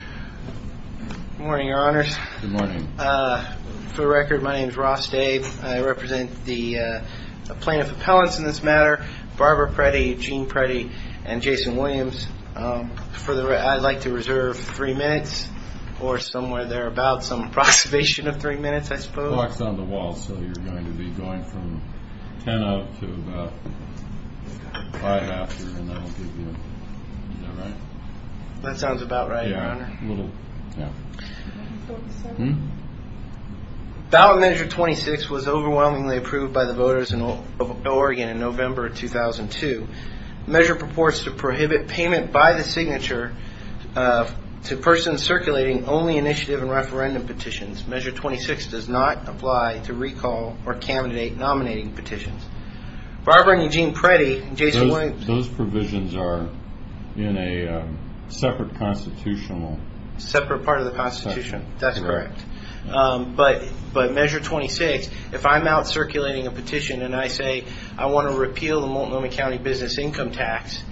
Good morning, Your Honors. Good morning. For the record, my name is Ross Dave. I represent the plaintiff appellants in this matter, Barbara Preti, Gene Preti, and Jason Williams. I'd like to reserve three minutes or somewhere thereabout, some approximation of three minutes, I suppose. The clock's on the wall, so you're going to be going from ten up to about five after, and that'll give you, is that right? That sounds about right, Your Honor. Yeah, a little, yeah. Ballot Measure 26 was overwhelmingly approved by the voters of Oregon in November of 2002. The measure purports to prohibit payment by the signature to persons circulating only initiative and referendum petitions. Measure 26 does not apply to recall or candidate nominating petitions. Barbara and Eugene Preti and Jason Williams Those provisions are in a separate constitutional section. Separate part of the Constitution, that's correct. But Measure 26, if I'm out circulating a petition, and I say I want to repeal the Multnomah County Business Income Tax,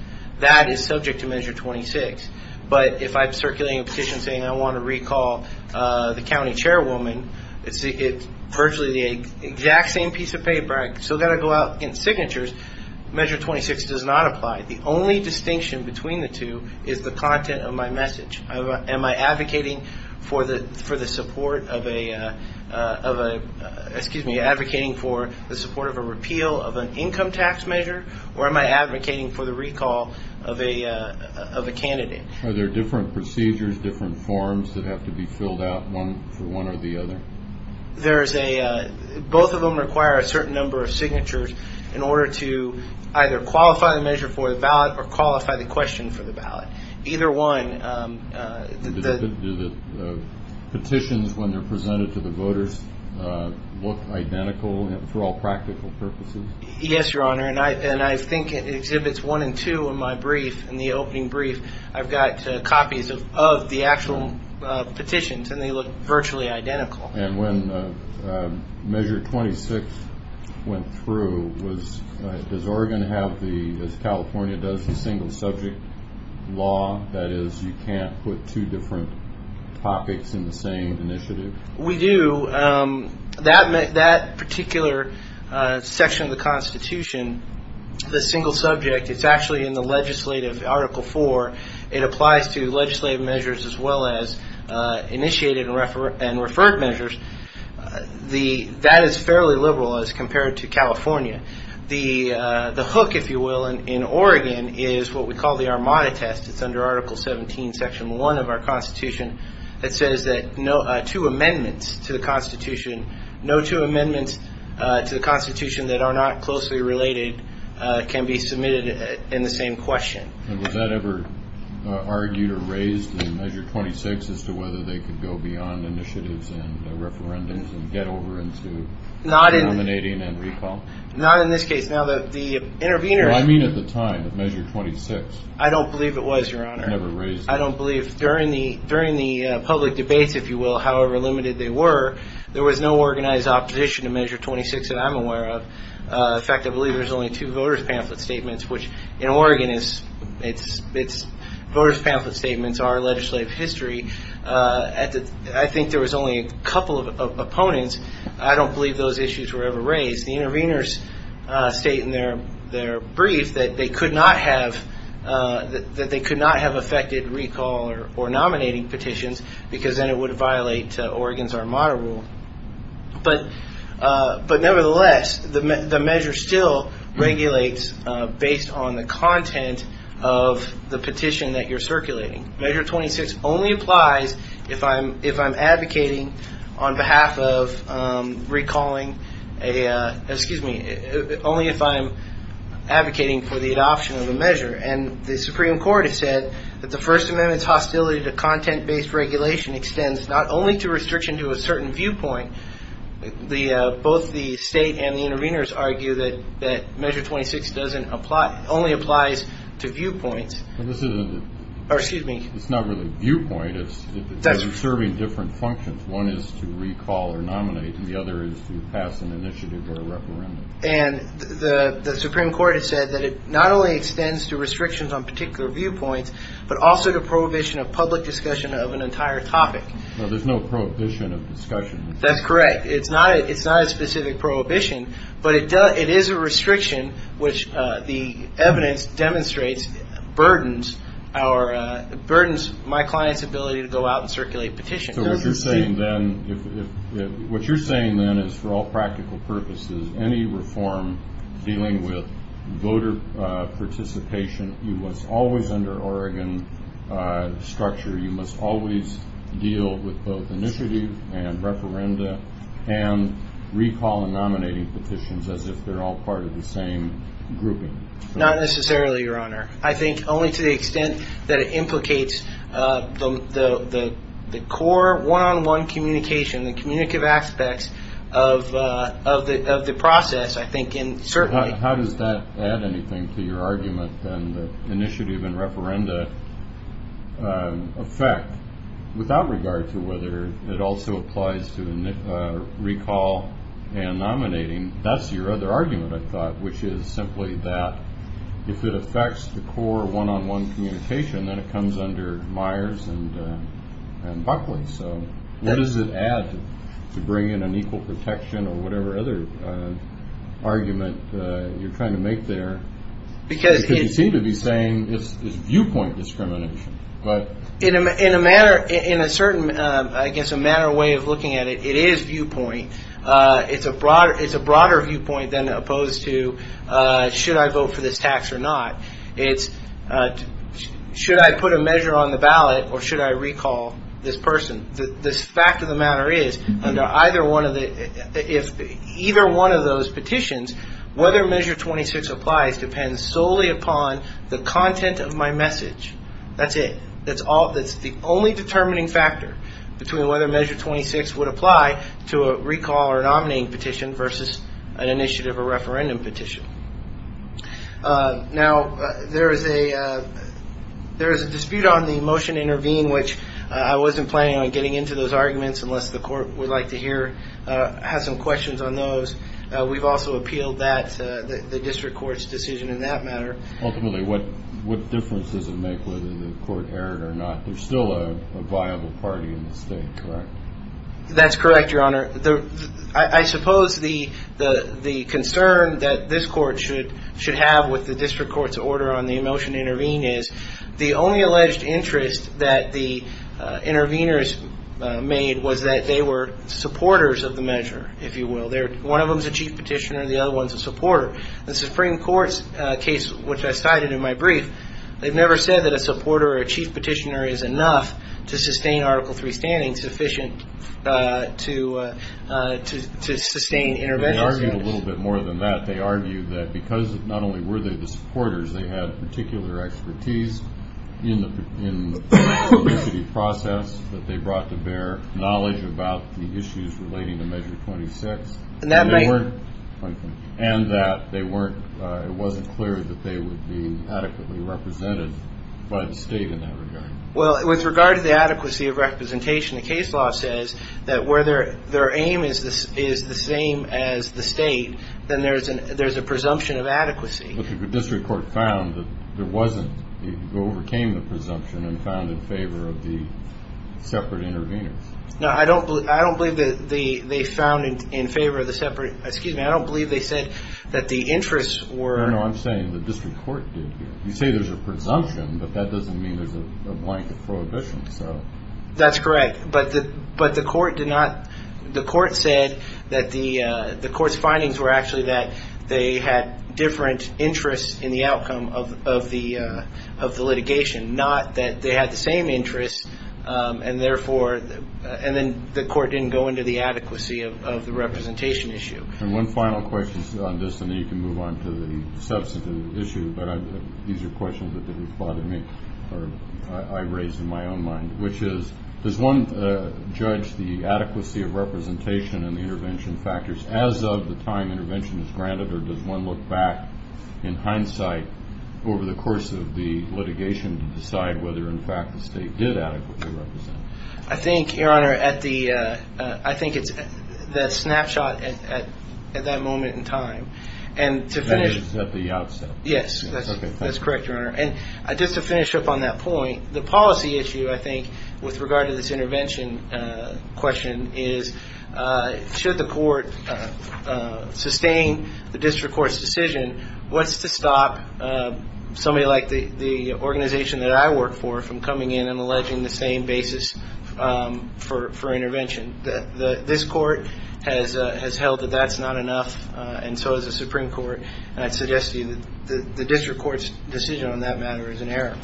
that is subject to Measure 26. But if I'm circulating a petition saying I want to recall the county chairwoman, it's virtually the exact same piece of paper. I've still got to go out and get signatures. Measure 26 does not apply. The only distinction between the two is the content of my message. Am I advocating for the support of a, excuse me, advocating for the support of a repeal of an income tax measure, or am I advocating for the recall of a candidate? Are there different procedures, different forms, that have to be filled out for one or the other? There is a, both of them require a certain number of signatures in order to either qualify the measure for the ballot or qualify the question for the ballot. Either one. Do the petitions, when they're presented to the voters, look identical through all practical purposes? Yes, Your Honor, and I think it exhibits one and two in my brief, in the opening brief. I've got copies of the actual petitions, and they look virtually identical. And when Measure 26 went through, does Oregon have the, as California does, the single subject law? That is, you can't put two different topics in the same initiative? We do. That particular section of the Constitution, the single subject, it's actually in the legislative Article 4. It applies to legislative measures as well as initiated and referred measures. That is fairly liberal as compared to California. The hook, if you will, in Oregon is what we call the Armada Test. It's under Article 17, Section 1 of our Constitution. It says that two amendments to the Constitution, no two amendments to the Constitution that are not closely related can be submitted in the same question. And was that ever argued or raised in Measure 26 as to whether they could go beyond initiatives and referendums and get over into nominating and recall? Not in this case. Now, the intervener at the time of Measure 26 never raised it. I don't believe it was, Your Honor. I don't believe. During the public debates, if you will, however limited they were, there was no organized opposition to Measure 26 that I'm aware of. In fact, I believe there's only two voters' pamphlet statements, which in Oregon voters' pamphlet statements are legislative history. I think there was only a couple of opponents. I don't believe those issues were ever raised. The interveners state in their brief that they could not have affected recall or nominating petitions because then it would violate Oregon's Armada Rule. But nevertheless, the measure still regulates based on the content of the petition that you're circulating. Measure 26 only applies if I'm advocating on behalf of recalling a – excuse me, only if I'm advocating for the adoption of a measure. And the Supreme Court has said that the First Amendment's hostility to content-based regulation extends not only to restriction to a certain viewpoint. Both the state and the interveners argue that Measure 26 doesn't apply – only applies to viewpoints. But this isn't a – Excuse me. It's not really a viewpoint. It's serving different functions. One is to recall or nominate, and the other is to pass an initiative or a referendum. And the Supreme Court has said that it not only extends to restrictions on particular viewpoints, but also to prohibition of public discussion of an entire topic. Well, there's no prohibition of discussion. That's correct. It's not a specific prohibition, but it is a restriction, which the evidence demonstrates burdens our – burdens my client's ability to go out and circulate petitions. So what you're saying then – what you're saying then is for all practical purposes, any reform dealing with voter participation, you must always, under Oregon structure, you must always deal with both initiative and referenda and recall and nominating petitions as if they're all part of the same grouping. Not necessarily, Your Honor. I think only to the extent that it implicates the core one-on-one communication, the communicative aspects of the process, I think, and certainly – How does that add anything to your argument, then, that initiative and referenda affect, without regard to whether it also applies to recall and nominating? That's your other argument, I thought, which is simply that if it affects the core one-on-one communication, then it comes under Myers and Buckley. So what does it add to bring in an equal protection or whatever other argument you're trying to make there? Because you seem to be saying it's viewpoint discrimination. In a manner – in a certain – I guess a manner way of looking at it, it is viewpoint. It's a broader viewpoint than opposed to should I vote for this tax or not. It's should I put a measure on the ballot or should I recall this person? The fact of the matter is under either one of the – if either one of those petitions, whether Measure 26 applies depends solely upon the content of my message. That's it. That's the only determining factor between whether Measure 26 would apply to a recall or a nominating petition versus an initiative or referendum petition. Now, there is a – there is a dispute on the motion to intervene, which I wasn't planning on getting into those arguments unless the court would like to hear – have some questions on those. We've also appealed that – the district court's decision in that matter. Ultimately, what difference does it make whether the court erred or not? There's still a viable party in the state, correct? That's correct, Your Honor. I suppose the concern that this court should have with the district court's order on the motion to intervene is the only alleged interest that the interveners made was that they were supporters of the measure, if you will. One of them is a chief petitioner and the other one is a supporter. The Supreme Court's case, which I cited in my brief, they've never said that a supporter or a chief petitioner is enough to sustain Article III standing, insufficient to sustain intervention. They argued a little bit more than that. They argued that because not only were they the supporters, they had particular expertise in the process that they brought to bear, knowledge about the issues relating to Measure 26. And that they weren't – it wasn't clear that they would be adequately represented by the state in that regard. Well, with regard to the adequacy of representation, the case law says that where their aim is the same as the state, then there's a presumption of adequacy. But the district court found that there wasn't. It overcame the presumption and found in favor of the separate interveners. No, I don't believe that they found in favor of the separate – excuse me, I don't believe they said that the interests were – No, no, I'm saying the district court did. You say there's a presumption, but that doesn't mean there's a blanket prohibition. That's correct. But the court did not – the court said that the – the court's findings were actually that they had different interests in the outcome of the litigation, not that they had the same interests, and therefore – and then the court didn't go into the adequacy of the representation issue. And one final question on this, and then you can move on to the substantive issue. But these are questions that have bothered me or I raised in my own mind, which is does one judge the adequacy of representation and the intervention factors as of the time intervention is granted, or does one look back in hindsight over the course of the litigation to decide whether, in fact, the state did adequately represent? I think, Your Honor, at the – I think it's the snapshot at that moment in time. And to finish – That is at the outset. Yes. That's correct, Your Honor. And just to finish up on that point, the policy issue, I think, with regard to this intervention question, is should the court sustain the district court's decision? What's to stop somebody like the organization that I work for from coming in and alleging the same basis for intervention? This court has held that that's not enough, and so has the Supreme Court. And I'd suggest to you that the district court's decision on that matter is in error.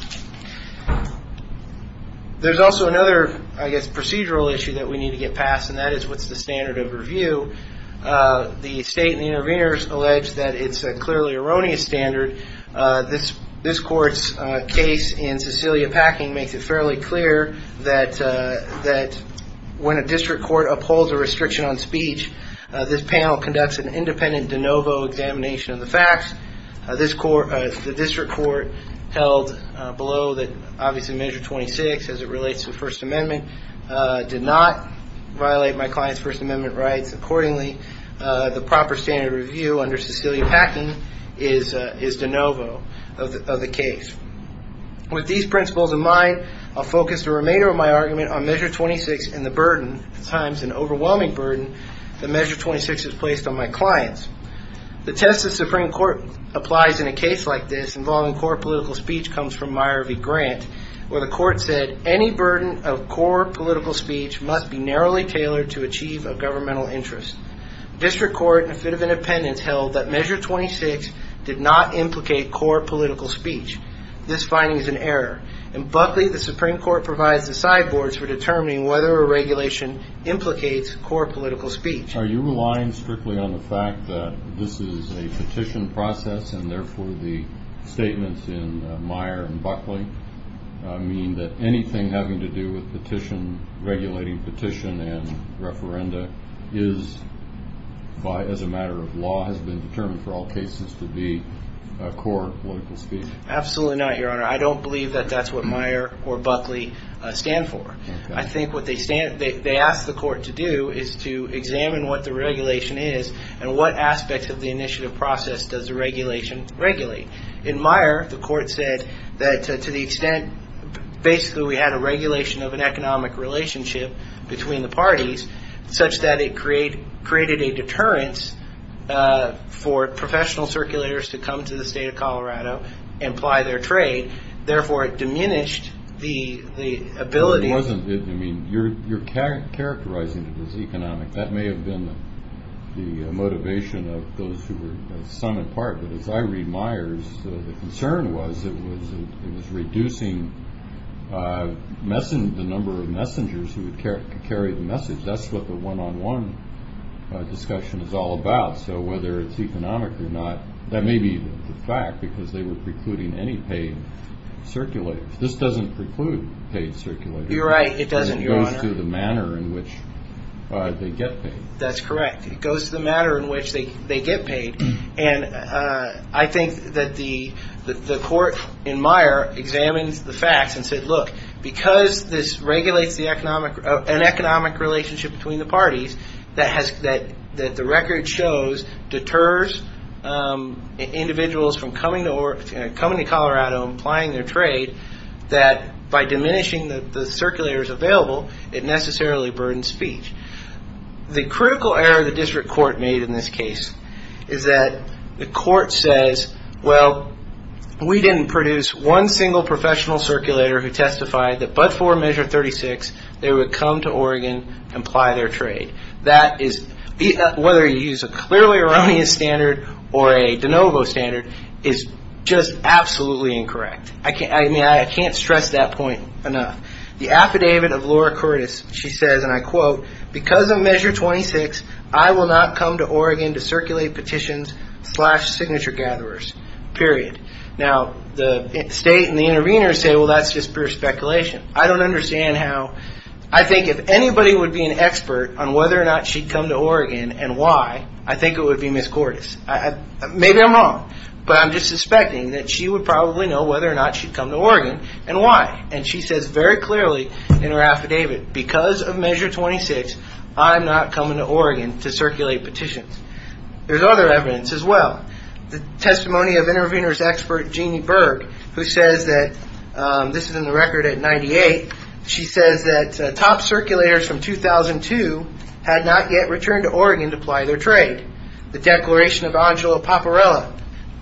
There's also another, I guess, procedural issue that we need to get past, and that is what's the standard of review? The state and the interveners allege that it's a clearly erroneous standard. This court's case in Cecilia Packing makes it fairly clear that when a district court upholds a restriction on speech, this panel conducts an independent de novo examination of the facts. The district court held below that, obviously, Measure 26, as it relates to the First Amendment, did not violate my client's First Amendment rights. Accordingly, the proper standard of review under Cecilia Packing is de novo of the case. With these principles in mind, I'll focus the remainder of my argument on Measure 26 and the burden, at times an overwhelming burden, that Measure 26 has placed on my clients. The test the Supreme Court applies in a case like this involving core political speech comes from Meyer v. Grant, where the court said any burden of core political speech must be narrowly tailored to achieve a governmental interest. District court in a fit of independence held that Measure 26 did not implicate core political speech. This finding is in error. In Buckley, the Supreme Court provides the side boards for determining whether a regulation implicates core political speech. Are you relying strictly on the fact that this is a petition process and, therefore, the statements in Meyer and Buckley mean that anything having to do with petition, regulating petition and referenda is, as a matter of law, has been determined for all cases to be core political speech? Absolutely not, Your Honor. I don't believe that that's what Meyer or Buckley stand for. I think what they ask the court to do is to examine what the regulation is and what aspects of the initiative process does the regulation regulate. In Meyer, the court said that to the extent basically we had a regulation of an economic relationship between the parties, such that it created a deterrence for professional circulators to come to the state of Colorado and apply their trade. Therefore, it diminished the ability. It wasn't. I mean, you're characterizing it as economic. That may have been the motivation of those who were some in part. But as I read Meyer's, the concern was it was reducing the number of messengers who would carry the message. That's what the one-on-one discussion is all about. So whether it's economic or not, that may be the fact because they were precluding any paid circulators. This doesn't preclude paid circulators. You're right. It doesn't, Your Honor. It goes to the manner in which they get paid. That's correct. It goes to the manner in which they get paid. And I think that the court in Meyer examines the facts and said, look, because this regulates an economic relationship between the parties, that the record shows deters individuals from coming to Colorado and applying their trade, that by diminishing the circulators available, it necessarily burdens speech. The critical error the district court made in this case is that the court says, well, we didn't produce one single professional circulator who testified that but for Measure 36, they would come to Oregon and apply their trade. That is, whether you use a clearly erroneous standard or a de novo standard, is just absolutely incorrect. I mean, I can't stress that point enough. The affidavit of Laura Cordes, she says, and I quote, because of Measure 26, I will not come to Oregon to circulate petitions slash signature gatherers, period. Now, the state and the intervener say, well, that's just pure speculation. I don't understand how. I think if anybody would be an expert on whether or not she'd come to Oregon and why, I think it would be Ms. Cordes. Maybe I'm wrong, but I'm just suspecting that she would probably know whether or not she'd come to Oregon and why. And she says very clearly in her affidavit, because of Measure 26, I'm not coming to Oregon to circulate petitions. There's other evidence as well. The testimony of intervener's expert, Jeanne Berg, who says that this is in the record at 98. She says that top circulators from 2002 had not yet returned to Oregon to apply their trade. The declaration of Angela Paparella,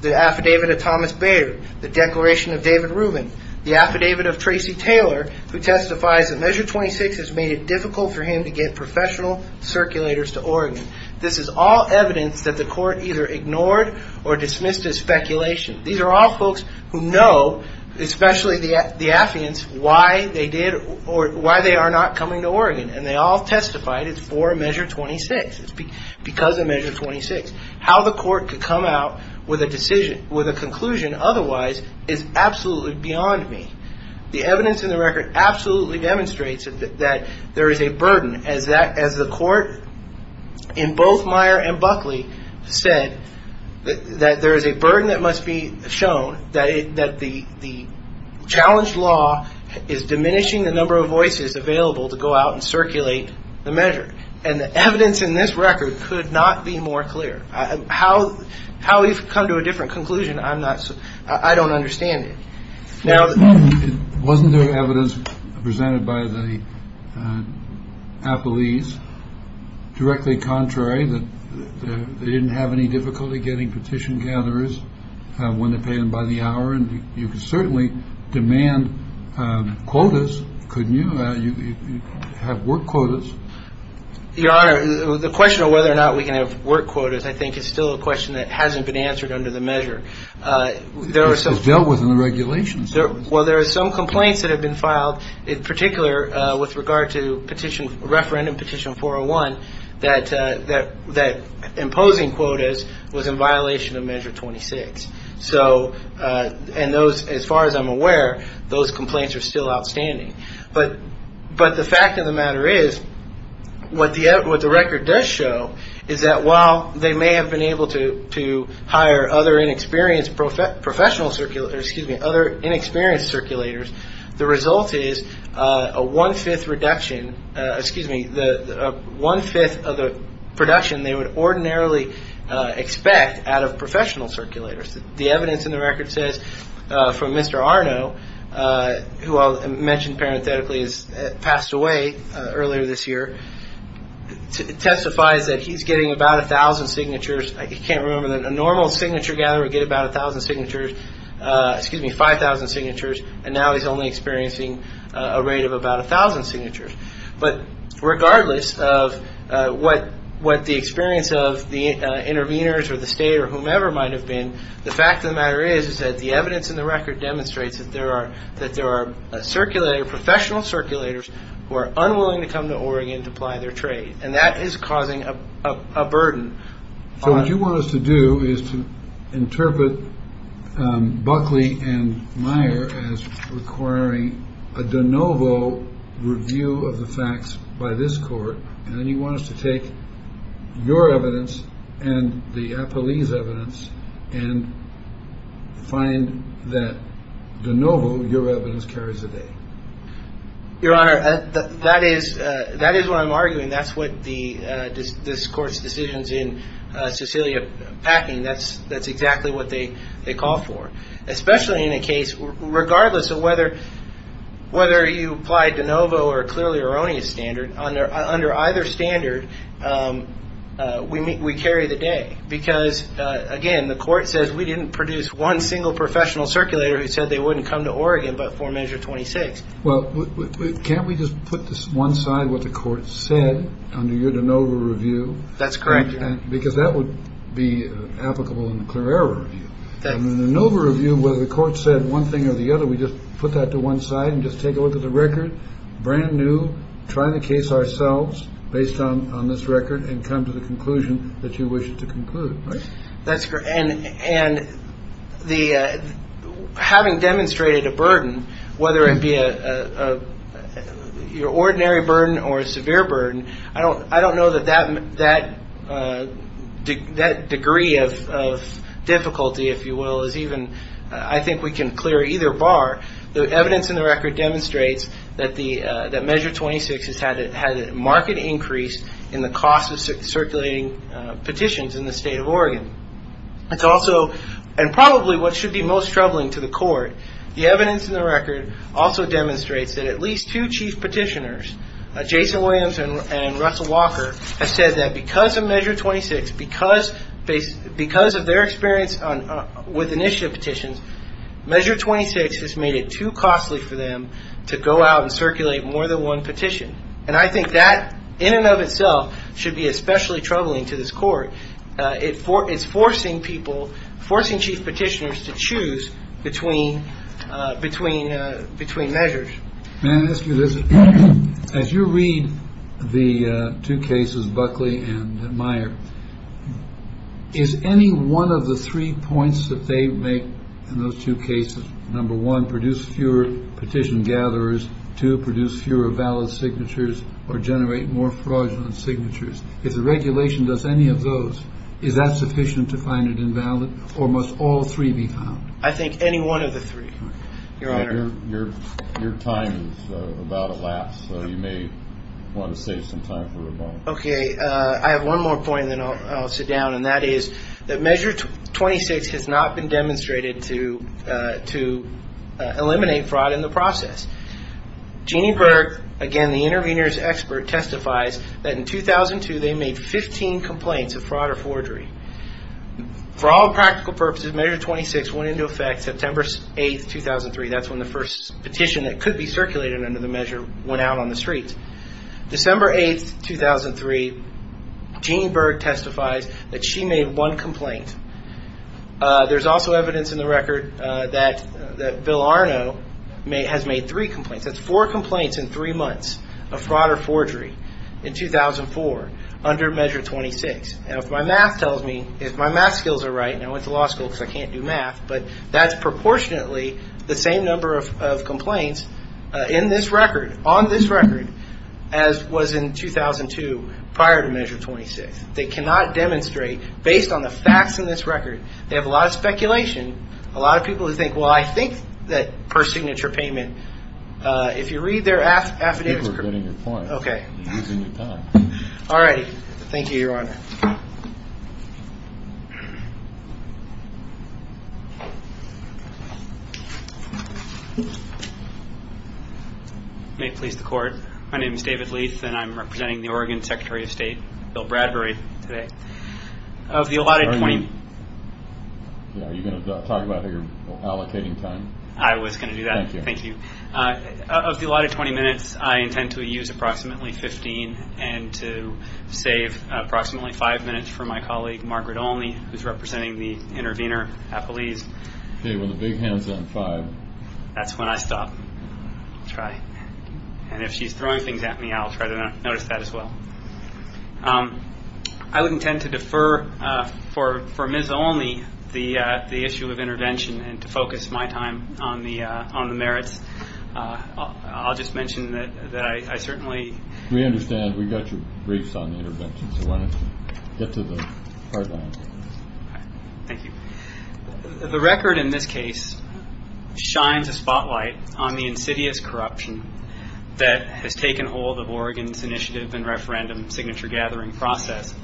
the affidavit of Thomas Bader, the declaration of David Rubin, the affidavit of Tracy Taylor, who testifies that Measure 26 has made it difficult for him to get professional circulators to Oregon. This is all evidence that the court either ignored or dismissed as speculation. These are all folks who know, especially the affiants, why they did or why they are not coming to Oregon. And they all testified it's for Measure 26. It's because of Measure 26. How the court could come out with a conclusion otherwise is absolutely beyond me. The evidence in the record absolutely demonstrates that there is a burden, as the court in both Meyer and Buckley said, that there is a burden that must be shown, that the challenged law is diminishing the number of voices available to go out and circulate the measure. And the evidence in this record could not be more clear how how we've come to a different conclusion. I'm not I don't understand it now. Wasn't there evidence presented by the police directly contrary that they didn't have any difficulty getting petition gatherers when they paid them by the hour? And you could certainly demand quotas. Couldn't you have work quotas? Your Honor, the question of whether or not we can have work quotas, I think, is still a question that hasn't been answered under the measure. There are some dealt with in the regulations. Well, there are some complaints that have been filed in particular with regard to petition referendum petition for one that that that imposing quotas was in violation of Measure 26. So and those as far as I'm aware, those complaints are still outstanding. But but the fact of the matter is what the what the record does show is that while they may have been able to to hire other inexperienced professional circulator, excuse me, other inexperienced circulators. The result is a one fifth reduction. Excuse me, the one fifth of the production they would ordinarily expect out of professional circulators. The evidence in the record says from Mr. Arno, who I mentioned parenthetically, is passed away earlier this year. Testifies that he's getting about a thousand signatures. I can't remember that a normal signature gatherer get about a thousand signatures. Five thousand signatures. And now he's only experiencing a rate of about a thousand signatures. But regardless of what what the experience of the interveners or the state or whomever might have been, the fact of the matter is, is that the evidence in the record demonstrates that there are that there are circulator professional circulators who are unwilling to come to Oregon to apply their trade. And that is causing a burden. So what you want us to do is to interpret Buckley and Meyer as requiring a de novo review of the facts by this court. And then you want us to take your evidence and the police evidence and find that de novo. Your Honor, that is that is what I'm arguing. That's what the discourse decisions in Sicilia packing. That's that's exactly what they they call for, especially in a case. Regardless of whether whether you applied de novo or clearly erroneous standard under under either standard, we we carry the day. Because, again, the court says we didn't produce one single professional circulator who said they wouldn't come to Oregon. But for measure 26. Well, can't we just put this one side with the court said under your de novo review? That's correct. Because that would be applicable in the clear error. No review. Whether the court said one thing or the other, we just put that to one side and just take a look at the record brand new. Trying to case ourselves based on this record and come to the conclusion that you wish to conclude. That's correct. And and the having demonstrated a burden, whether it be a your ordinary burden or a severe burden. I don't I don't know that that that that degree of difficulty, if you will, is even I think we can clear either bar. The evidence in the record demonstrates that the that measure 26 has had it had a marked increase in the cost of circulating petitions in the state of Oregon. It's also and probably what should be most troubling to the court. The evidence in the record also demonstrates that at least two chief petitioners, Jason Williams and Russell Walker, have said that because of Measure 26, because they because of their experience with initiative petitions, Measure 26 has made it too costly for them to go out and circulate more than one petition. And I think that in and of itself should be especially troubling to this court. It's forcing people, forcing chief petitioners to choose between between between measures. As you read the two cases, Buckley and Meyer, is any one of the three points that they make in those two cases? Number one, produce fewer petition gatherers to produce fewer valid signatures or generate more fraudulent signatures. If the regulation does any of those, is that sufficient to find it invalid? Or must all three be found? I think any one of the three. Your Honor, your time is about elapsed. So you may want to save some time for a moment. OK, I have one more point and then I'll sit down. And that is that Measure 26 has not been demonstrated to to eliminate fraud in the process. Jeanne Berg, again, the intervener's expert, testifies that in 2002 they made 15 complaints of fraud or forgery. For all practical purposes, Measure 26 went into effect September 8th, 2003. That's when the first petition that could be circulated under the measure went out on the streets. December 8th, 2003, Jeanne Berg testifies that she made one complaint. There's also evidence in the record that that Bill Arno may has made three complaints. That's four complaints in three months of fraud or forgery in 2004 under Measure 26. And if my math tells me, if my math skills are right, and I went to law school because I can't do math, but that's proportionately the same number of complaints in this record, on this record, as was in 2002 prior to Measure 26. They cannot demonstrate based on the facts in this record. They have a lot of speculation, a lot of people who think, well, I think that per signature payment, if you read their affidavits. Thank you for getting your point. All right. Thank you, Your Honor. May it please the Court. My name is David Leath, and I'm representing the Oregon Secretary of State, Bill Bradbury, today. Are you going to talk about your allocating time? I was going to do that. Thank you. Of the allotted 20 minutes, I intend to use approximately 15 and to save approximately five minutes for my colleague, Margaret Olney, who's representing the intervener, Apolise. Okay. Well, the big hand's on five. That's when I stop. Try. And if she's throwing things at me, I'll try to notice that as well. I would intend to defer for Ms. Olney the issue of intervention and to focus my time on the merits. I'll just mention that I certainly. We understand. We got your briefs on the intervention, so why don't you get to the hard line. Thank you. The record in this case shines a spotlight on the insidious corruption that has taken hold of Oregon's initiative and referendum signature-gathering process.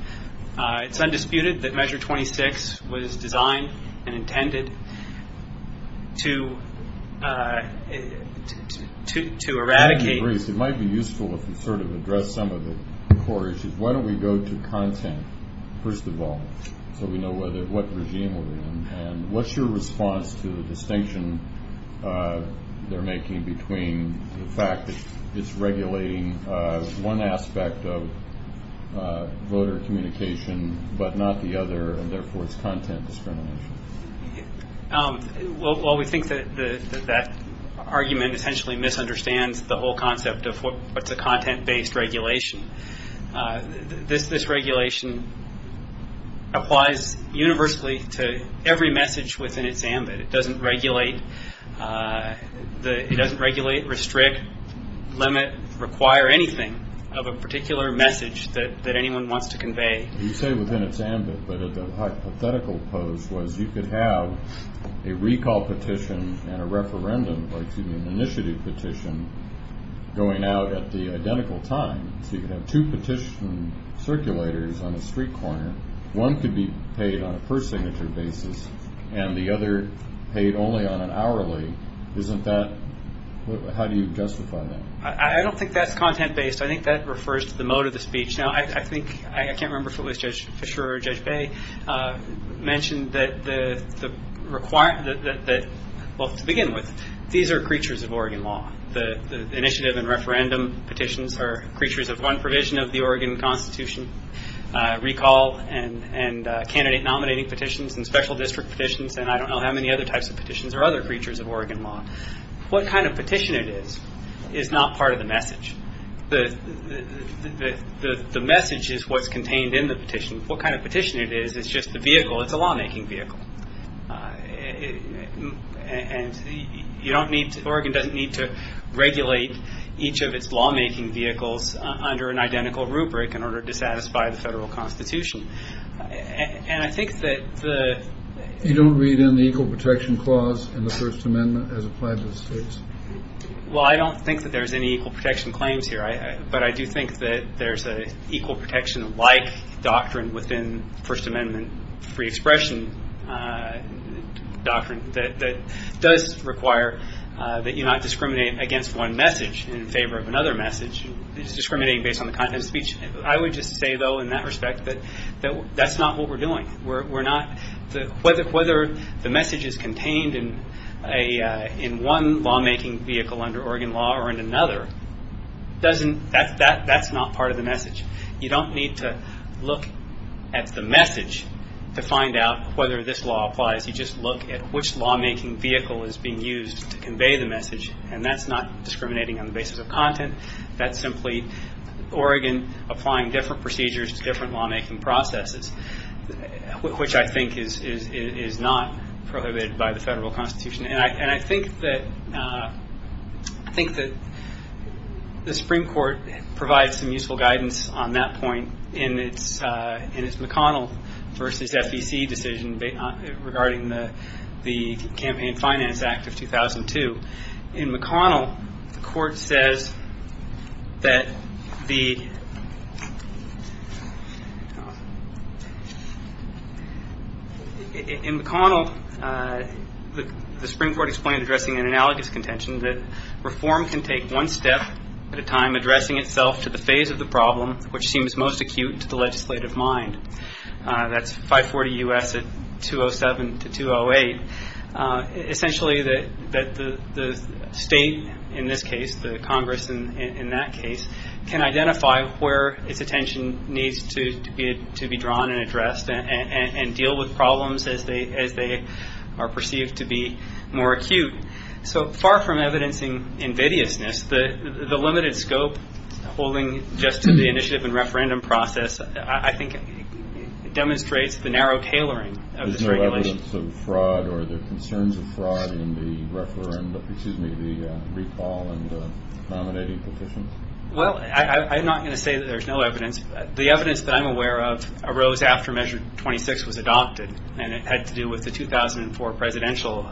It's undisputed that Measure 26 was designed and intended to eradicate. It might be useful if we sort of address some of the core issues. Why don't we go to content, first of all, so we know what regime we're in. And what's your response to the distinction they're making between the fact that it's regulating one aspect of voter communication but not the other, and therefore it's content discrimination? Well, we think that that argument essentially misunderstands the whole concept of what's a content-based regulation. This regulation applies universally to every message within its ambit. It doesn't regulate, restrict, limit, require anything of a particular message that anyone wants to convey. You say within its ambit, but the hypothetical pose was you could have a recall petition and a referendum, like an initiative petition, going out at the identical time. So you could have two petition circulators on a street corner. One could be paid on a per-signature basis, and the other paid only on an hourly. How do you justify that? I don't think that's content-based. I think that refers to the mode of the speech. Now, I think, I can't remember if it was Judge Fischer or Judge Bay, mentioned that the requirement, well, to begin with, these are creatures of Oregon law. The initiative and referendum petitions are creatures of one provision of the Oregon Constitution, recall and candidate-nominating petitions and special district petitions, and I don't know how many other types of petitions are other creatures of Oregon law. What kind of petition it is is not part of the message. The message is what's contained in the petition. What kind of petition it is, it's just a vehicle. It's a lawmaking vehicle. And you don't need, Oregon doesn't need to regulate each of its lawmaking vehicles under an identical rubric in order to satisfy the federal constitution. And I think that the... You don't read in the Equal Protection Clause in the First Amendment as applied to the states? Well, I don't think that there's any equal protection claims here, but I do think that there's an equal protection-like doctrine within First Amendment free expression doctrine that does require that you not discriminate against one message in favor of another message. It's discriminating based on the content of the speech. I would just say, though, in that respect, that that's not what we're doing. Whether the message is contained in one lawmaking vehicle under Oregon law or in another, that's not part of the message. You don't need to look at the message to find out whether this law applies. You just look at which lawmaking vehicle is being used to convey the message, and that's not discriminating on the basis of content. That's simply Oregon applying different procedures to different lawmaking processes, which I think is not prohibited by the federal constitution. And I think that the Supreme Court provides some useful guidance on that point in its McConnell v. FEC decision regarding the Campaign Finance Act of 2002. In McConnell, the Court says that the – in McConnell, the Supreme Court explained addressing an analogous contention, that reform can take one step at a time addressing itself to the phase of the problem which seems most acute to the legislative mind. That's 540 U.S. at 207 to 208. Essentially that the state in this case, the Congress in that case, can identify where its attention needs to be drawn and addressed and deal with problems as they are perceived to be more acute. So far from evidencing invidiousness, the limited scope holding just to the initiative and referendum process, I think demonstrates the narrow tailoring of this regulation. Are there concerns of fraud in the referendum, excuse me, the recall and the nominating petitions? Well, I'm not going to say that there's no evidence. The evidence that I'm aware of arose after Measure 26 was adopted and it had to do with the 2004 presidential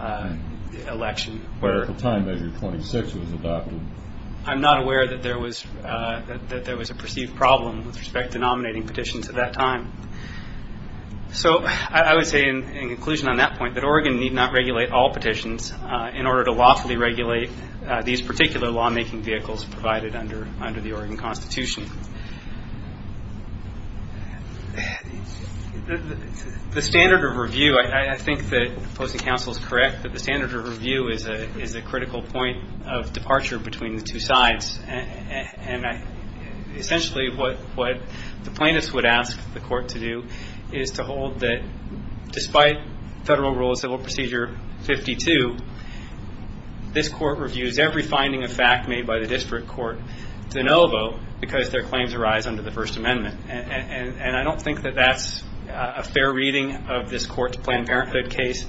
election. Where at the time Measure 26 was adopted. I'm not aware that there was a perceived problem with respect to nominating petitions at that time. So I would say in conclusion on that point, that Oregon need not regulate all petitions in order to lawfully regulate these particular lawmaking vehicles provided under the Oregon Constitution. The standard of review, I think that opposing counsel is correct, that the standard of review is a critical point of departure between the two sides. And essentially what the plaintiffs would ask the court to do is to hold that despite Federal Rule of Civil Procedure 52, this court reviews every finding of fact made by the district court de novo because their claims arise under the First Amendment. And I don't think that that's a fair reading of this court's Planned Parenthood case.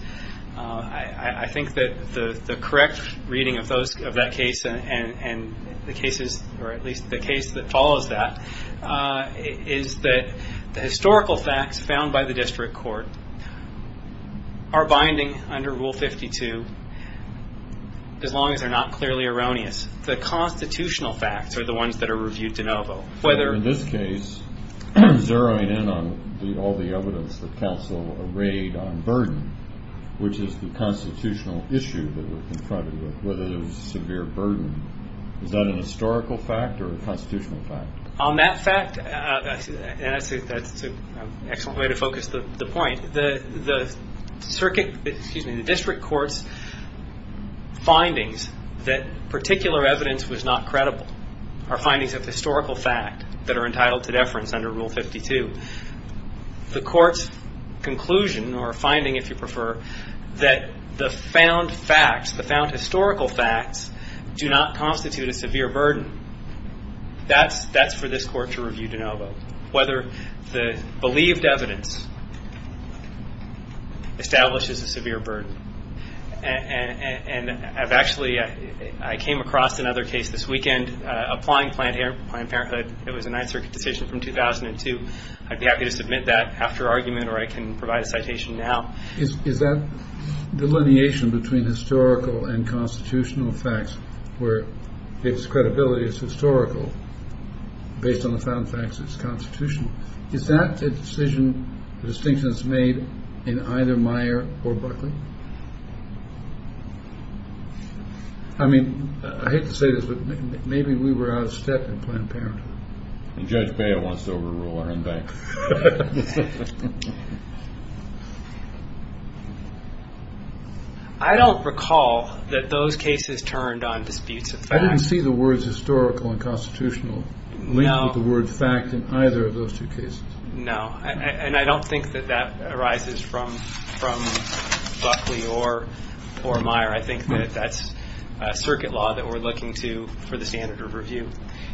I think that the correct reading of that case and the cases or at least the case that follows that is that the historical facts found by the district court are binding under Rule 52 as long as they're not clearly erroneous. The constitutional facts are the ones that are reviewed de novo. In this case, zeroing in on all the evidence that counsel arrayed on burden, which is the constitutional issue that we're confronted with, whether there's severe burden, is that a historical fact or a constitutional fact? On that fact, and that's an excellent way to focus the point, the district court's findings that particular evidence was not credible are findings of historical fact that are entitled to deference under Rule 52. The court's conclusion or finding, if you prefer, that the found facts, the found historical facts, do not constitute a severe burden, that's for this court to review de novo, whether the believed evidence establishes a severe burden. Actually, I came across another case this weekend applying Planned Parenthood. It was a Ninth Circuit decision from 2002. I'd be happy to submit that after argument or I can provide a citation now. Is that delineation between historical and constitutional facts where its credibility is historical based on the found facts is constitutional, is that a decision, a distinction that's made in either Meyer or Buckley? I mean, I hate to say this, but maybe we were out of step in Planned Parenthood. And Judge Beyer wants to overrule our own bank. I don't recall that those cases turned on disputes of fact. I didn't see the words historical and constitutional linked with the word fact in either of those two cases. No. And I don't think that that arises from Buckley or Meyer. I think that that's circuit law that we're looking to for the standard of review.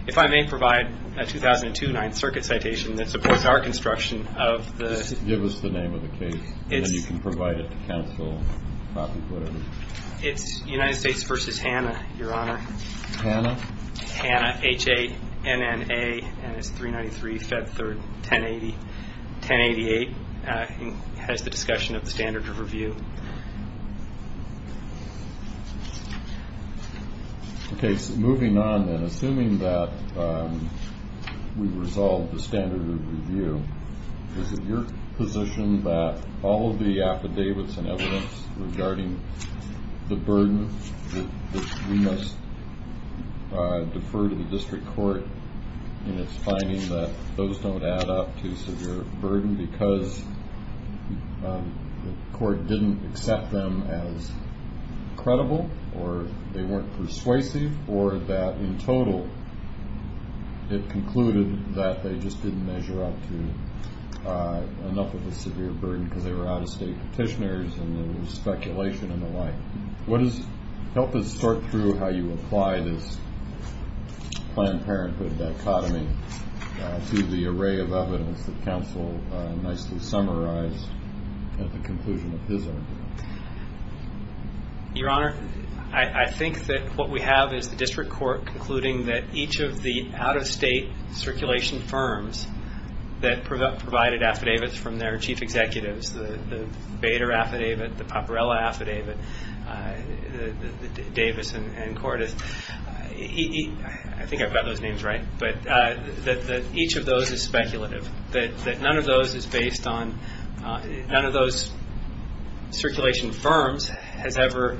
If I may provide a 2002 Ninth Circuit citation that supports our construction of the... Just give us the name of the case, and then you can provide it to counsel, copy, whatever. It's United States v. Hanna, Your Honor. Hanna? Hanna, H-A-N-N-A, and it's 393 Fed 3rd, 1088. It has the discussion of the standard of review. Okay, so moving on then, assuming that we've resolved the standard of review, is it your position that all of the affidavits and evidence regarding the burden that we must defer to the district court in its finding that those don't add up to severe burden because the court didn't accept them as credible, or they weren't persuasive, or that in total it concluded that they just didn't measure up to enough of a severe burden because they were out-of-state petitioners and there was speculation and the like? Help us sort through how you apply this Planned Parenthood dichotomy to the array of evidence that counsel nicely summarized at the conclusion of his argument. Your Honor, I think that what we have is the district court concluding that each of the out-of-state circulation firms that provided affidavits from their chief executives, the Bader affidavit, the Paparella affidavit, Davis and Cordes, I think I've got those names right, but that each of those is speculative, that none of those is based on, none of those circulation firms has ever,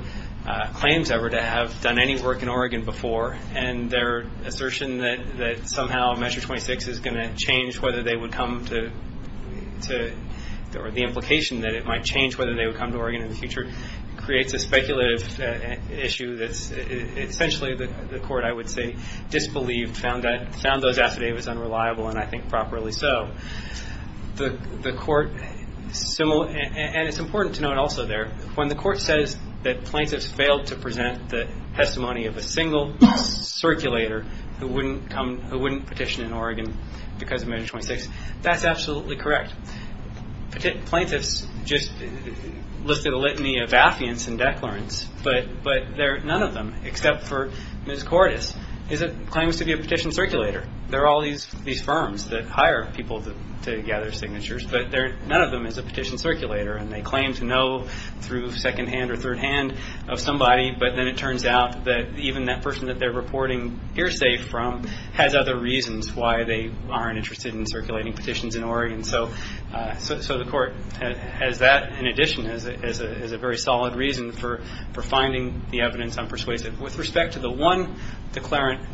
claims ever to have done any work in Oregon before, and their assertion that somehow Measure 26 is going to change whether they would come to, or the implication that it might change whether they would come to Oregon in the future, creates a speculative issue that essentially the court, I would say, disbelieved, found those affidavits unreliable, and I think properly so. The court, and it's important to note also there, when the court says that plaintiffs failed to present the testimony of a single circulator who wouldn't petition in Oregon because of Measure 26, that's absolutely correct. Plaintiffs just listed a litany of affiants and declarants, but none of them, except for Ms. Cordes, claims to be a petition circulator. There are all these firms that hire people to gather signatures, but none of them is a petition circulator, and they claim to know through second-hand or third-hand of somebody, but then it turns out that even that person that they're reporting hearsay from has other reasons why they aren't interested in circulating petitions in Oregon. So the court has that in addition as a very solid reason for finding the evidence unpersuasive. With respect to the one declarant,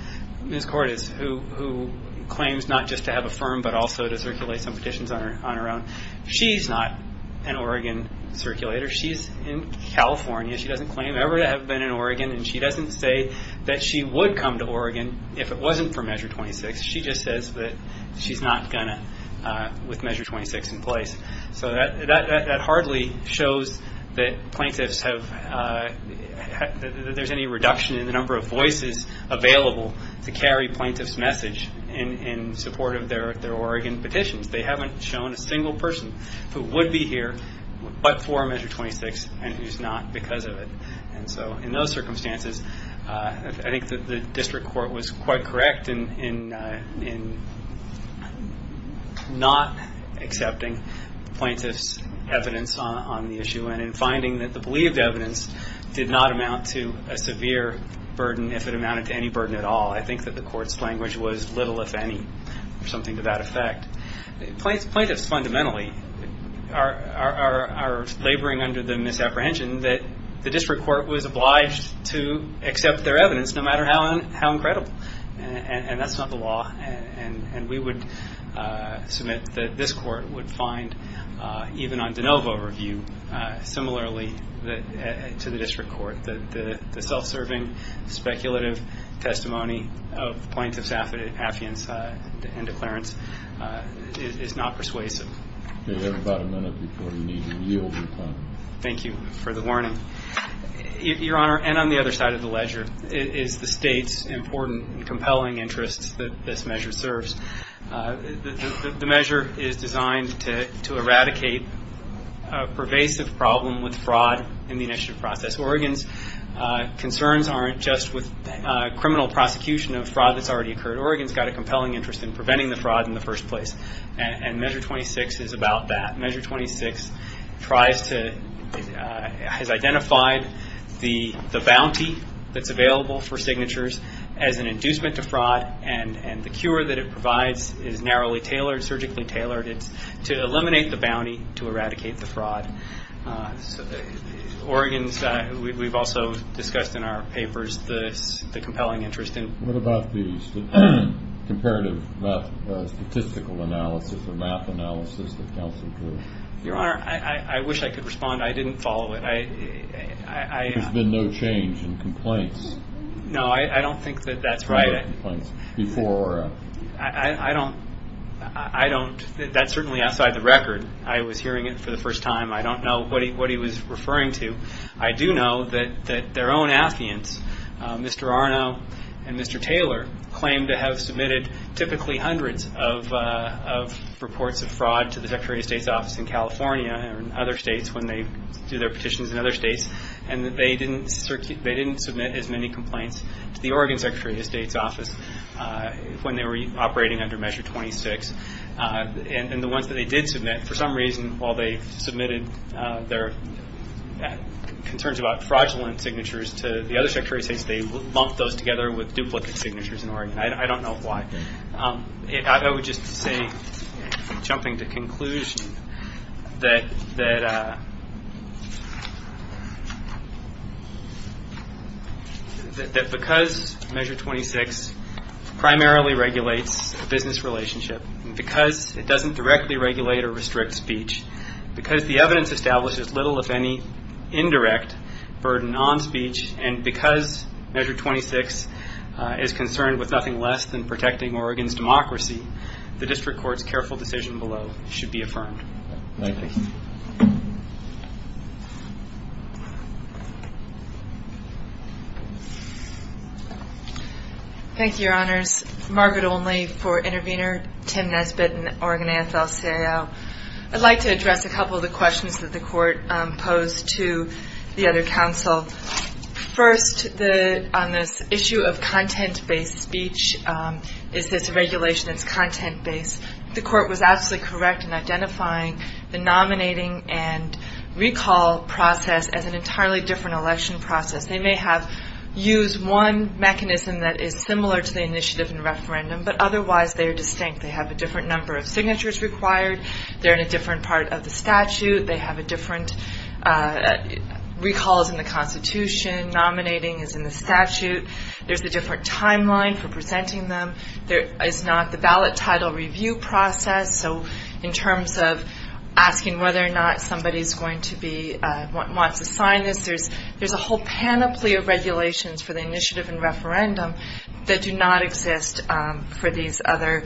Ms. Cordes, who claims not just to have a firm but also to circulate some petitions on her own, she's not an Oregon circulator. She's in California. She doesn't claim ever to have been in Oregon, and she doesn't say that she would come to Oregon if it wasn't for Measure 26. She just says that she's not going to with Measure 26 in place. So that hardly shows that plaintiffs have any reduction in the number of voices available to carry plaintiffs' message in support of their Oregon petitions. They haven't shown a single person who would be here but for Measure 26 and who's not because of it. So in those circumstances, I think that the district court was quite correct in not accepting plaintiffs' evidence on the issue and in finding that the believed evidence did not amount to a severe burden if it amounted to any burden at all. I think that the court's language was, little if any, or something to that effect. Plaintiffs fundamentally are laboring under the misapprehension that the district court was obliged to accept their evidence no matter how incredible, and that's not the law. And we would submit that this court would find, even on de novo review, similarly to the district court, that the self-serving speculative testimony of plaintiffs' affidavits and declarants is not persuasive. You have about a minute before you need to yield your time. Thank you for the warning. Your Honor, and on the other side of the ledger, is the State's important and compelling interest that this measure serves. The measure is designed to eradicate a pervasive problem with fraud in the initiative process. Oregon's concerns aren't just with criminal prosecution of fraud that's already occurred. Oregon's got a compelling interest in preventing the fraud in the first place, and Measure 26 is about that. Measure 26 tries to, has identified the bounty that's available for signatures as an inducement to fraud, and the cure that it provides is narrowly tailored, surgically tailored. It's to eliminate the bounty to eradicate the fraud. Oregon's got, we've also discussed in our papers, the compelling interest in. What about these? Comparative statistical analysis or math analysis that counsel drew? Your Honor, I wish I could respond. I didn't follow it. There's been no change in complaints. No, I don't think that that's right. No complaints before or after. I don't, that's certainly outside the record. I was hearing it for the first time. I don't know what he was referring to. I do know that their own applicants, Mr. Arno and Mr. Taylor, claim to have submitted typically hundreds of reports of fraud to the Secretary of State's office in California and other states when they do their petitions in other states, and that they didn't submit as many complaints to the Oregon Secretary of State's office when they were operating under Measure 26. And the ones that they did submit, for some reason, while they submitted their concerns about fraudulent signatures to the other Secretary of State, they lumped those together with duplicate signatures in Oregon. I don't know why. I would just say, jumping to conclusion, that because Measure 26 primarily regulates a business relationship, because it doesn't directly regulate or restrict speech, because the evidence establishes little, if any, indirect burden on speech, and because Measure 26 is concerned with nothing less than protecting Oregon's democracy, the district court's careful decision below should be affirmed. Thank you. Thank you, Your Honors. Margaret Olney for Intervenor, Tim Nesbitt in Oregon AFL-CIO. I'd like to address a couple of the questions that the court posed to the other counsel. First, on this issue of content-based speech, is this a regulation that's content-based? The court was absolutely correct in identifying the nominating and recall process as an entirely different election process. They may have used one mechanism that is similar to the initiative and referendum, but otherwise they are distinct. They have a different number of signatures required. They're in a different part of the statute. They have different recalls in the Constitution. Nominating is in the statute. There's a different timeline for presenting them. There is not the ballot title review process. So in terms of asking whether or not somebody wants to sign this, there's a whole panoply of regulations for the initiative and referendum that do not exist for these other,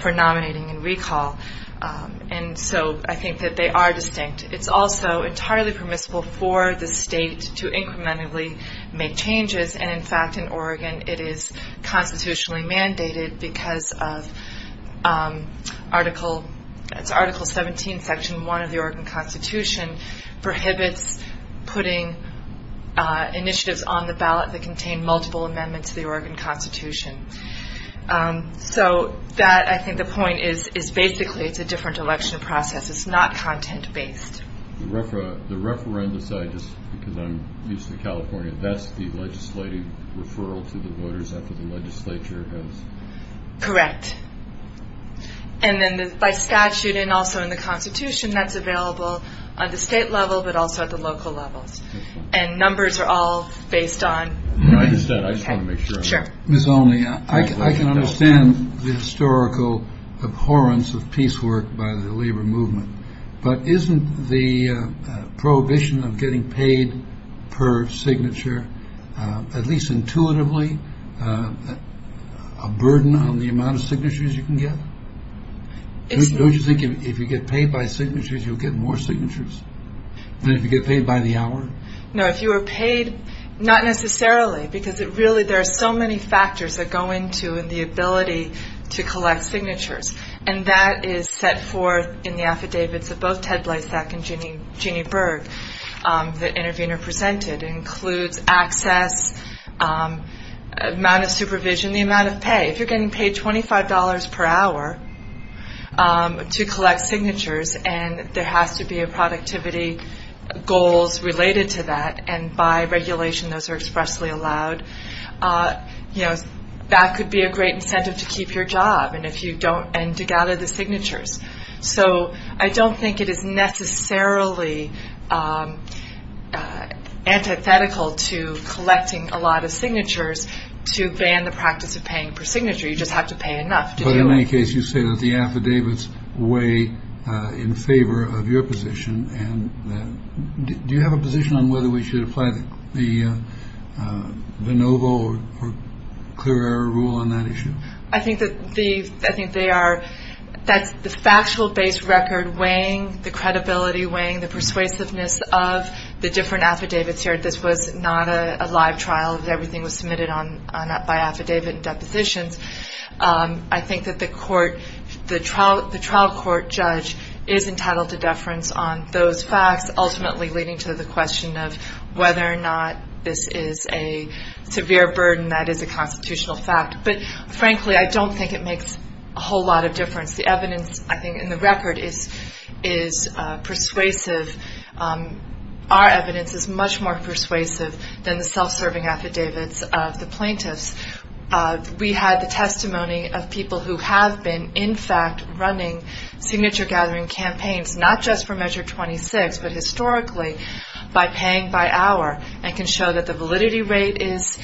for nominating and recall. And so I think that they are distinct. It's also entirely permissible for the state to incrementally make changes, and in fact in Oregon it is constitutionally mandated because of Article 17, Section 1 of the Oregon Constitution, prohibits putting initiatives on the ballot that contain multiple amendments to the Oregon Constitution. So that, I think the point is basically it's a different election process. It's not content-based. The referendum side, just because I'm used to California, that's the legislative referral to the voters after the legislature has... Correct. And then by statute and also in the Constitution, that's available at the state level but also at the local levels. And numbers are all based on... I understand. I just want to make sure. Sure. Ms. Olney, I can understand the historical abhorrence of piecework by the labor movement, but isn't the prohibition of getting paid per signature, at least intuitively, a burden on the amount of signatures you can get? Don't you think if you get paid by signatures, you'll get more signatures than if you get paid by the hour? No, if you were paid, not necessarily, because really there are so many factors that go into the ability to collect signatures, and that is set forth in the affidavits of both Ted Blasek and Jeannie Berg, the intervener presented. It includes access, amount of supervision, the amount of pay. If you're getting paid $25 per hour to collect signatures and there has to be a productivity goals related to that, and by regulation those are expressly allowed, that could be a great incentive to keep your job and to gather the signatures. So I don't think it is necessarily antithetical to collecting a lot of signatures to ban the practice of paying per signature. You just have to pay enough to do it. But in any case, you say that the affidavits weigh in favor of your position, and do you have a position on whether we should apply the de novo or clear error rule on that issue? I think they are. That's the factual base record weighing the credibility, weighing the persuasiveness of the different affidavits here. This was not a live trial. Everything was submitted by affidavit and depositions. I think that the trial court judge is entitled to deference on those facts, ultimately leading to the question of whether or not this is a severe burden that is a constitutional fact. But, frankly, I don't think it makes a whole lot of difference. The evidence, I think, in the record is persuasive. Our evidence is much more persuasive than the self-serving affidavits of the plaintiffs. We had the testimony of people who have been, in fact, running signature-gathering campaigns, not just for Measure 26, but historically by paying by hour, and can show that the validity rate is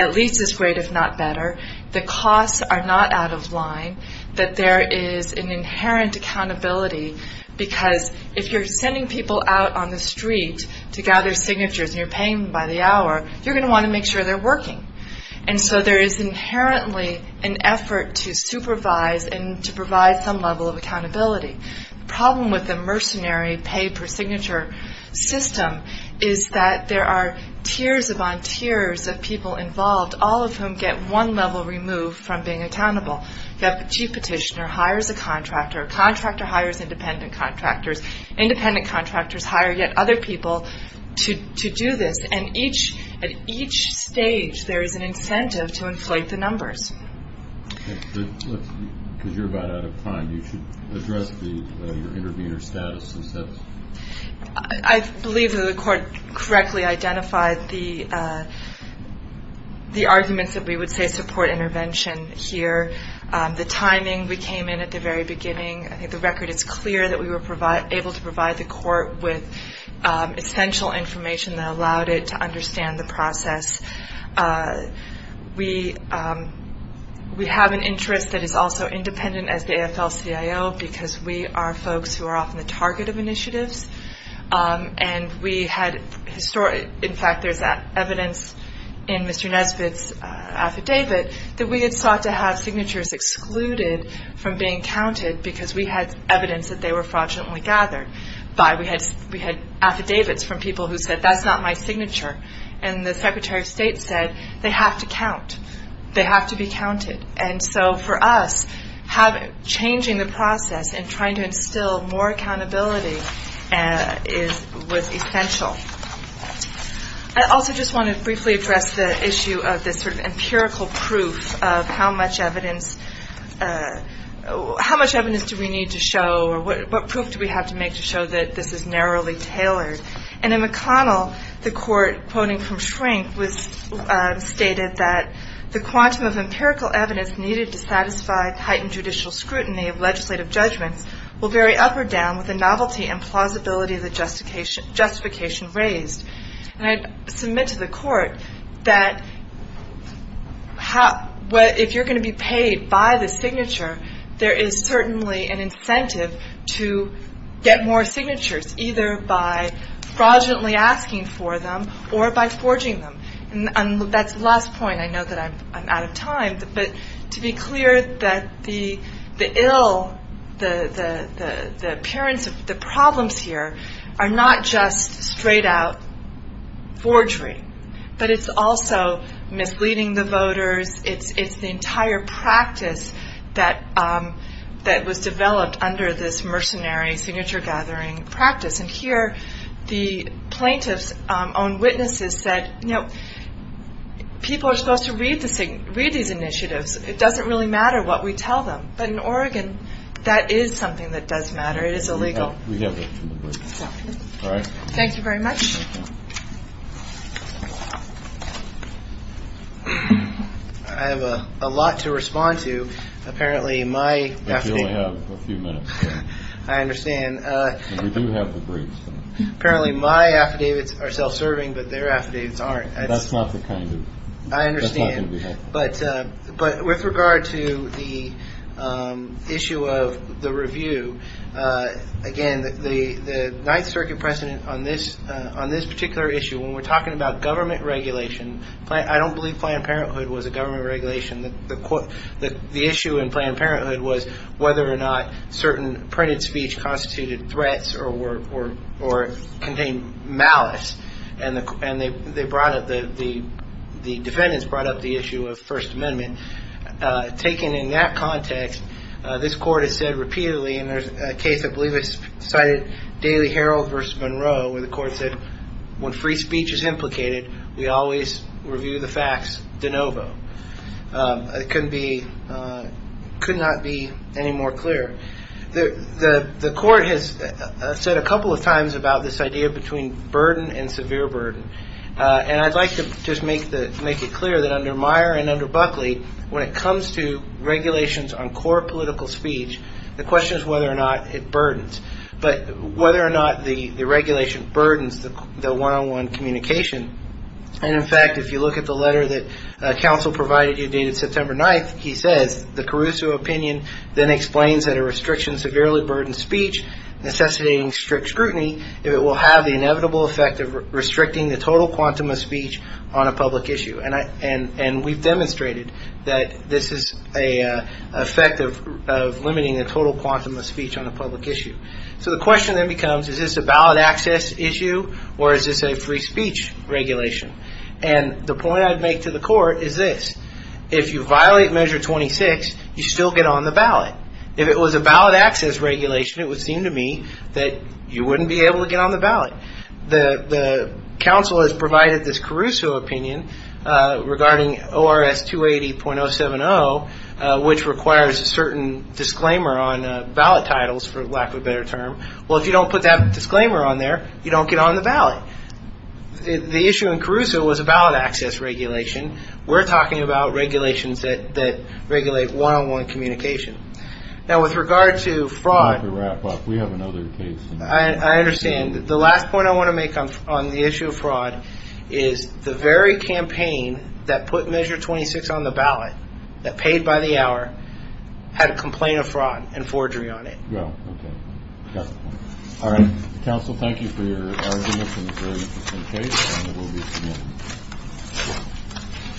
at least as great, if not better. The costs are not out of line, that there is an inherent accountability, because if you're sending people out on the street to gather signatures and you're paying by the hour, you're going to want to make sure they're working. And so there is inherently an effort to supervise and to provide some level of accountability. The problem with the mercenary pay-per-signature system is that there are tiers upon tiers of people involved, all of whom get one level removed from being accountable. The chief petitioner hires a contractor, a contractor hires independent contractors, independent contractors hire yet other people to do this, and at each stage there is an incentive to inflate the numbers. Because you're about out of time, you should address your intervener status. I believe that the court correctly identified the arguments that we would say support intervention here. The timing, we came in at the very beginning. I think the record is clear that we were able to provide the court with essential information that allowed it to understand the process. We have an interest that is also independent as the AFL-CIO, because we are folks who are often the target of initiatives. In fact, there's evidence in Mr. Nesbitt's affidavit that we had sought to have signatures excluded from being counted because we had evidence that they were fraudulently gathered. We had affidavits from people who said, that's not my signature. And the Secretary of State said, they have to count, they have to be counted. And so for us, changing the process and trying to instill more accountability was essential. I also just want to briefly address the issue of this sort of empirical proof of how much evidence do we need to show or what proof do we have to make to show that this is narrowly tailored. And in McConnell, the court, quoting from Shrink, stated that the quantum of empirical evidence needed to satisfy heightened judicial scrutiny of legislative judgments will vary up or down with the novelty and plausibility of the justification raised. And I submit to the court that if you're going to be paid by the signature, there is certainly an incentive to get more signatures, either by fraudulently asking for them or by forging them. And that's the last point. I know that I'm out of time. But to be clear that the ill, the appearance of the problems here are not just straight-out forgery. But it's also misleading the voters. It's the entire practice that was developed under this mercenary signature-gathering practice. And here, the plaintiff's own witnesses said, you know, people are supposed to read these initiatives. It doesn't really matter what we tell them. But in Oregon, that is something that does matter. It is illegal. All right. Thank you very much. I have a lot to respond to. Apparently, my affidavits are self-serving, but their affidavits aren't. I understand. But with regard to the issue of the review, again, the Ninth Circuit precedent on this particular issue, when we're talking about government regulation, I don't believe Planned Parenthood was a government regulation. The issue in Planned Parenthood was whether or not certain printed speech constituted threats or contained malice. And the defendants brought up the issue of First Amendment. Taken in that context, this Court has said repeatedly, and there's a case I believe is cited, Daily Herald v. Monroe, where the Court said, when free speech is implicated, we always review the facts de novo. It could not be any more clear. The Court has said a couple of times about this idea between burden and severe burden. And I'd like to just make it clear that under Meyer and under Buckley, when it comes to regulations on core political speech, the question is whether or not it burdens, but whether or not the regulation burdens the one-on-one communication. And, in fact, if you look at the letter that counsel provided you dated September 9th, he says, then explains that a restriction severely burdens speech, necessitating strict scrutiny, if it will have the inevitable effect of restricting the total quantum of speech on a public issue. And we've demonstrated that this is an effect of limiting the total quantum of speech on a public issue. So the question then becomes, is this a ballot access issue, or is this a free speech regulation? And the point I'd make to the Court is this, if you violate Measure 26, you still get on the ballot. If it was a ballot access regulation, it would seem to me that you wouldn't be able to get on the ballot. The counsel has provided this Caruso opinion regarding ORS 280.070, which requires a certain disclaimer on ballot titles, for lack of a better term. Well, if you don't put that disclaimer on there, you don't get on the ballot. The issue in Caruso was a ballot access regulation. We're talking about regulations that regulate one-on-one communication. Now, with regard to fraud, I understand. The last point I want to make on the issue of fraud is the very campaign that put Measure 26 on the ballot, that paid by the hour, had a complaint of fraud and forgery on it. All right. Counsel, thank you for your arguments in this very interesting case, and we'll be seeing you.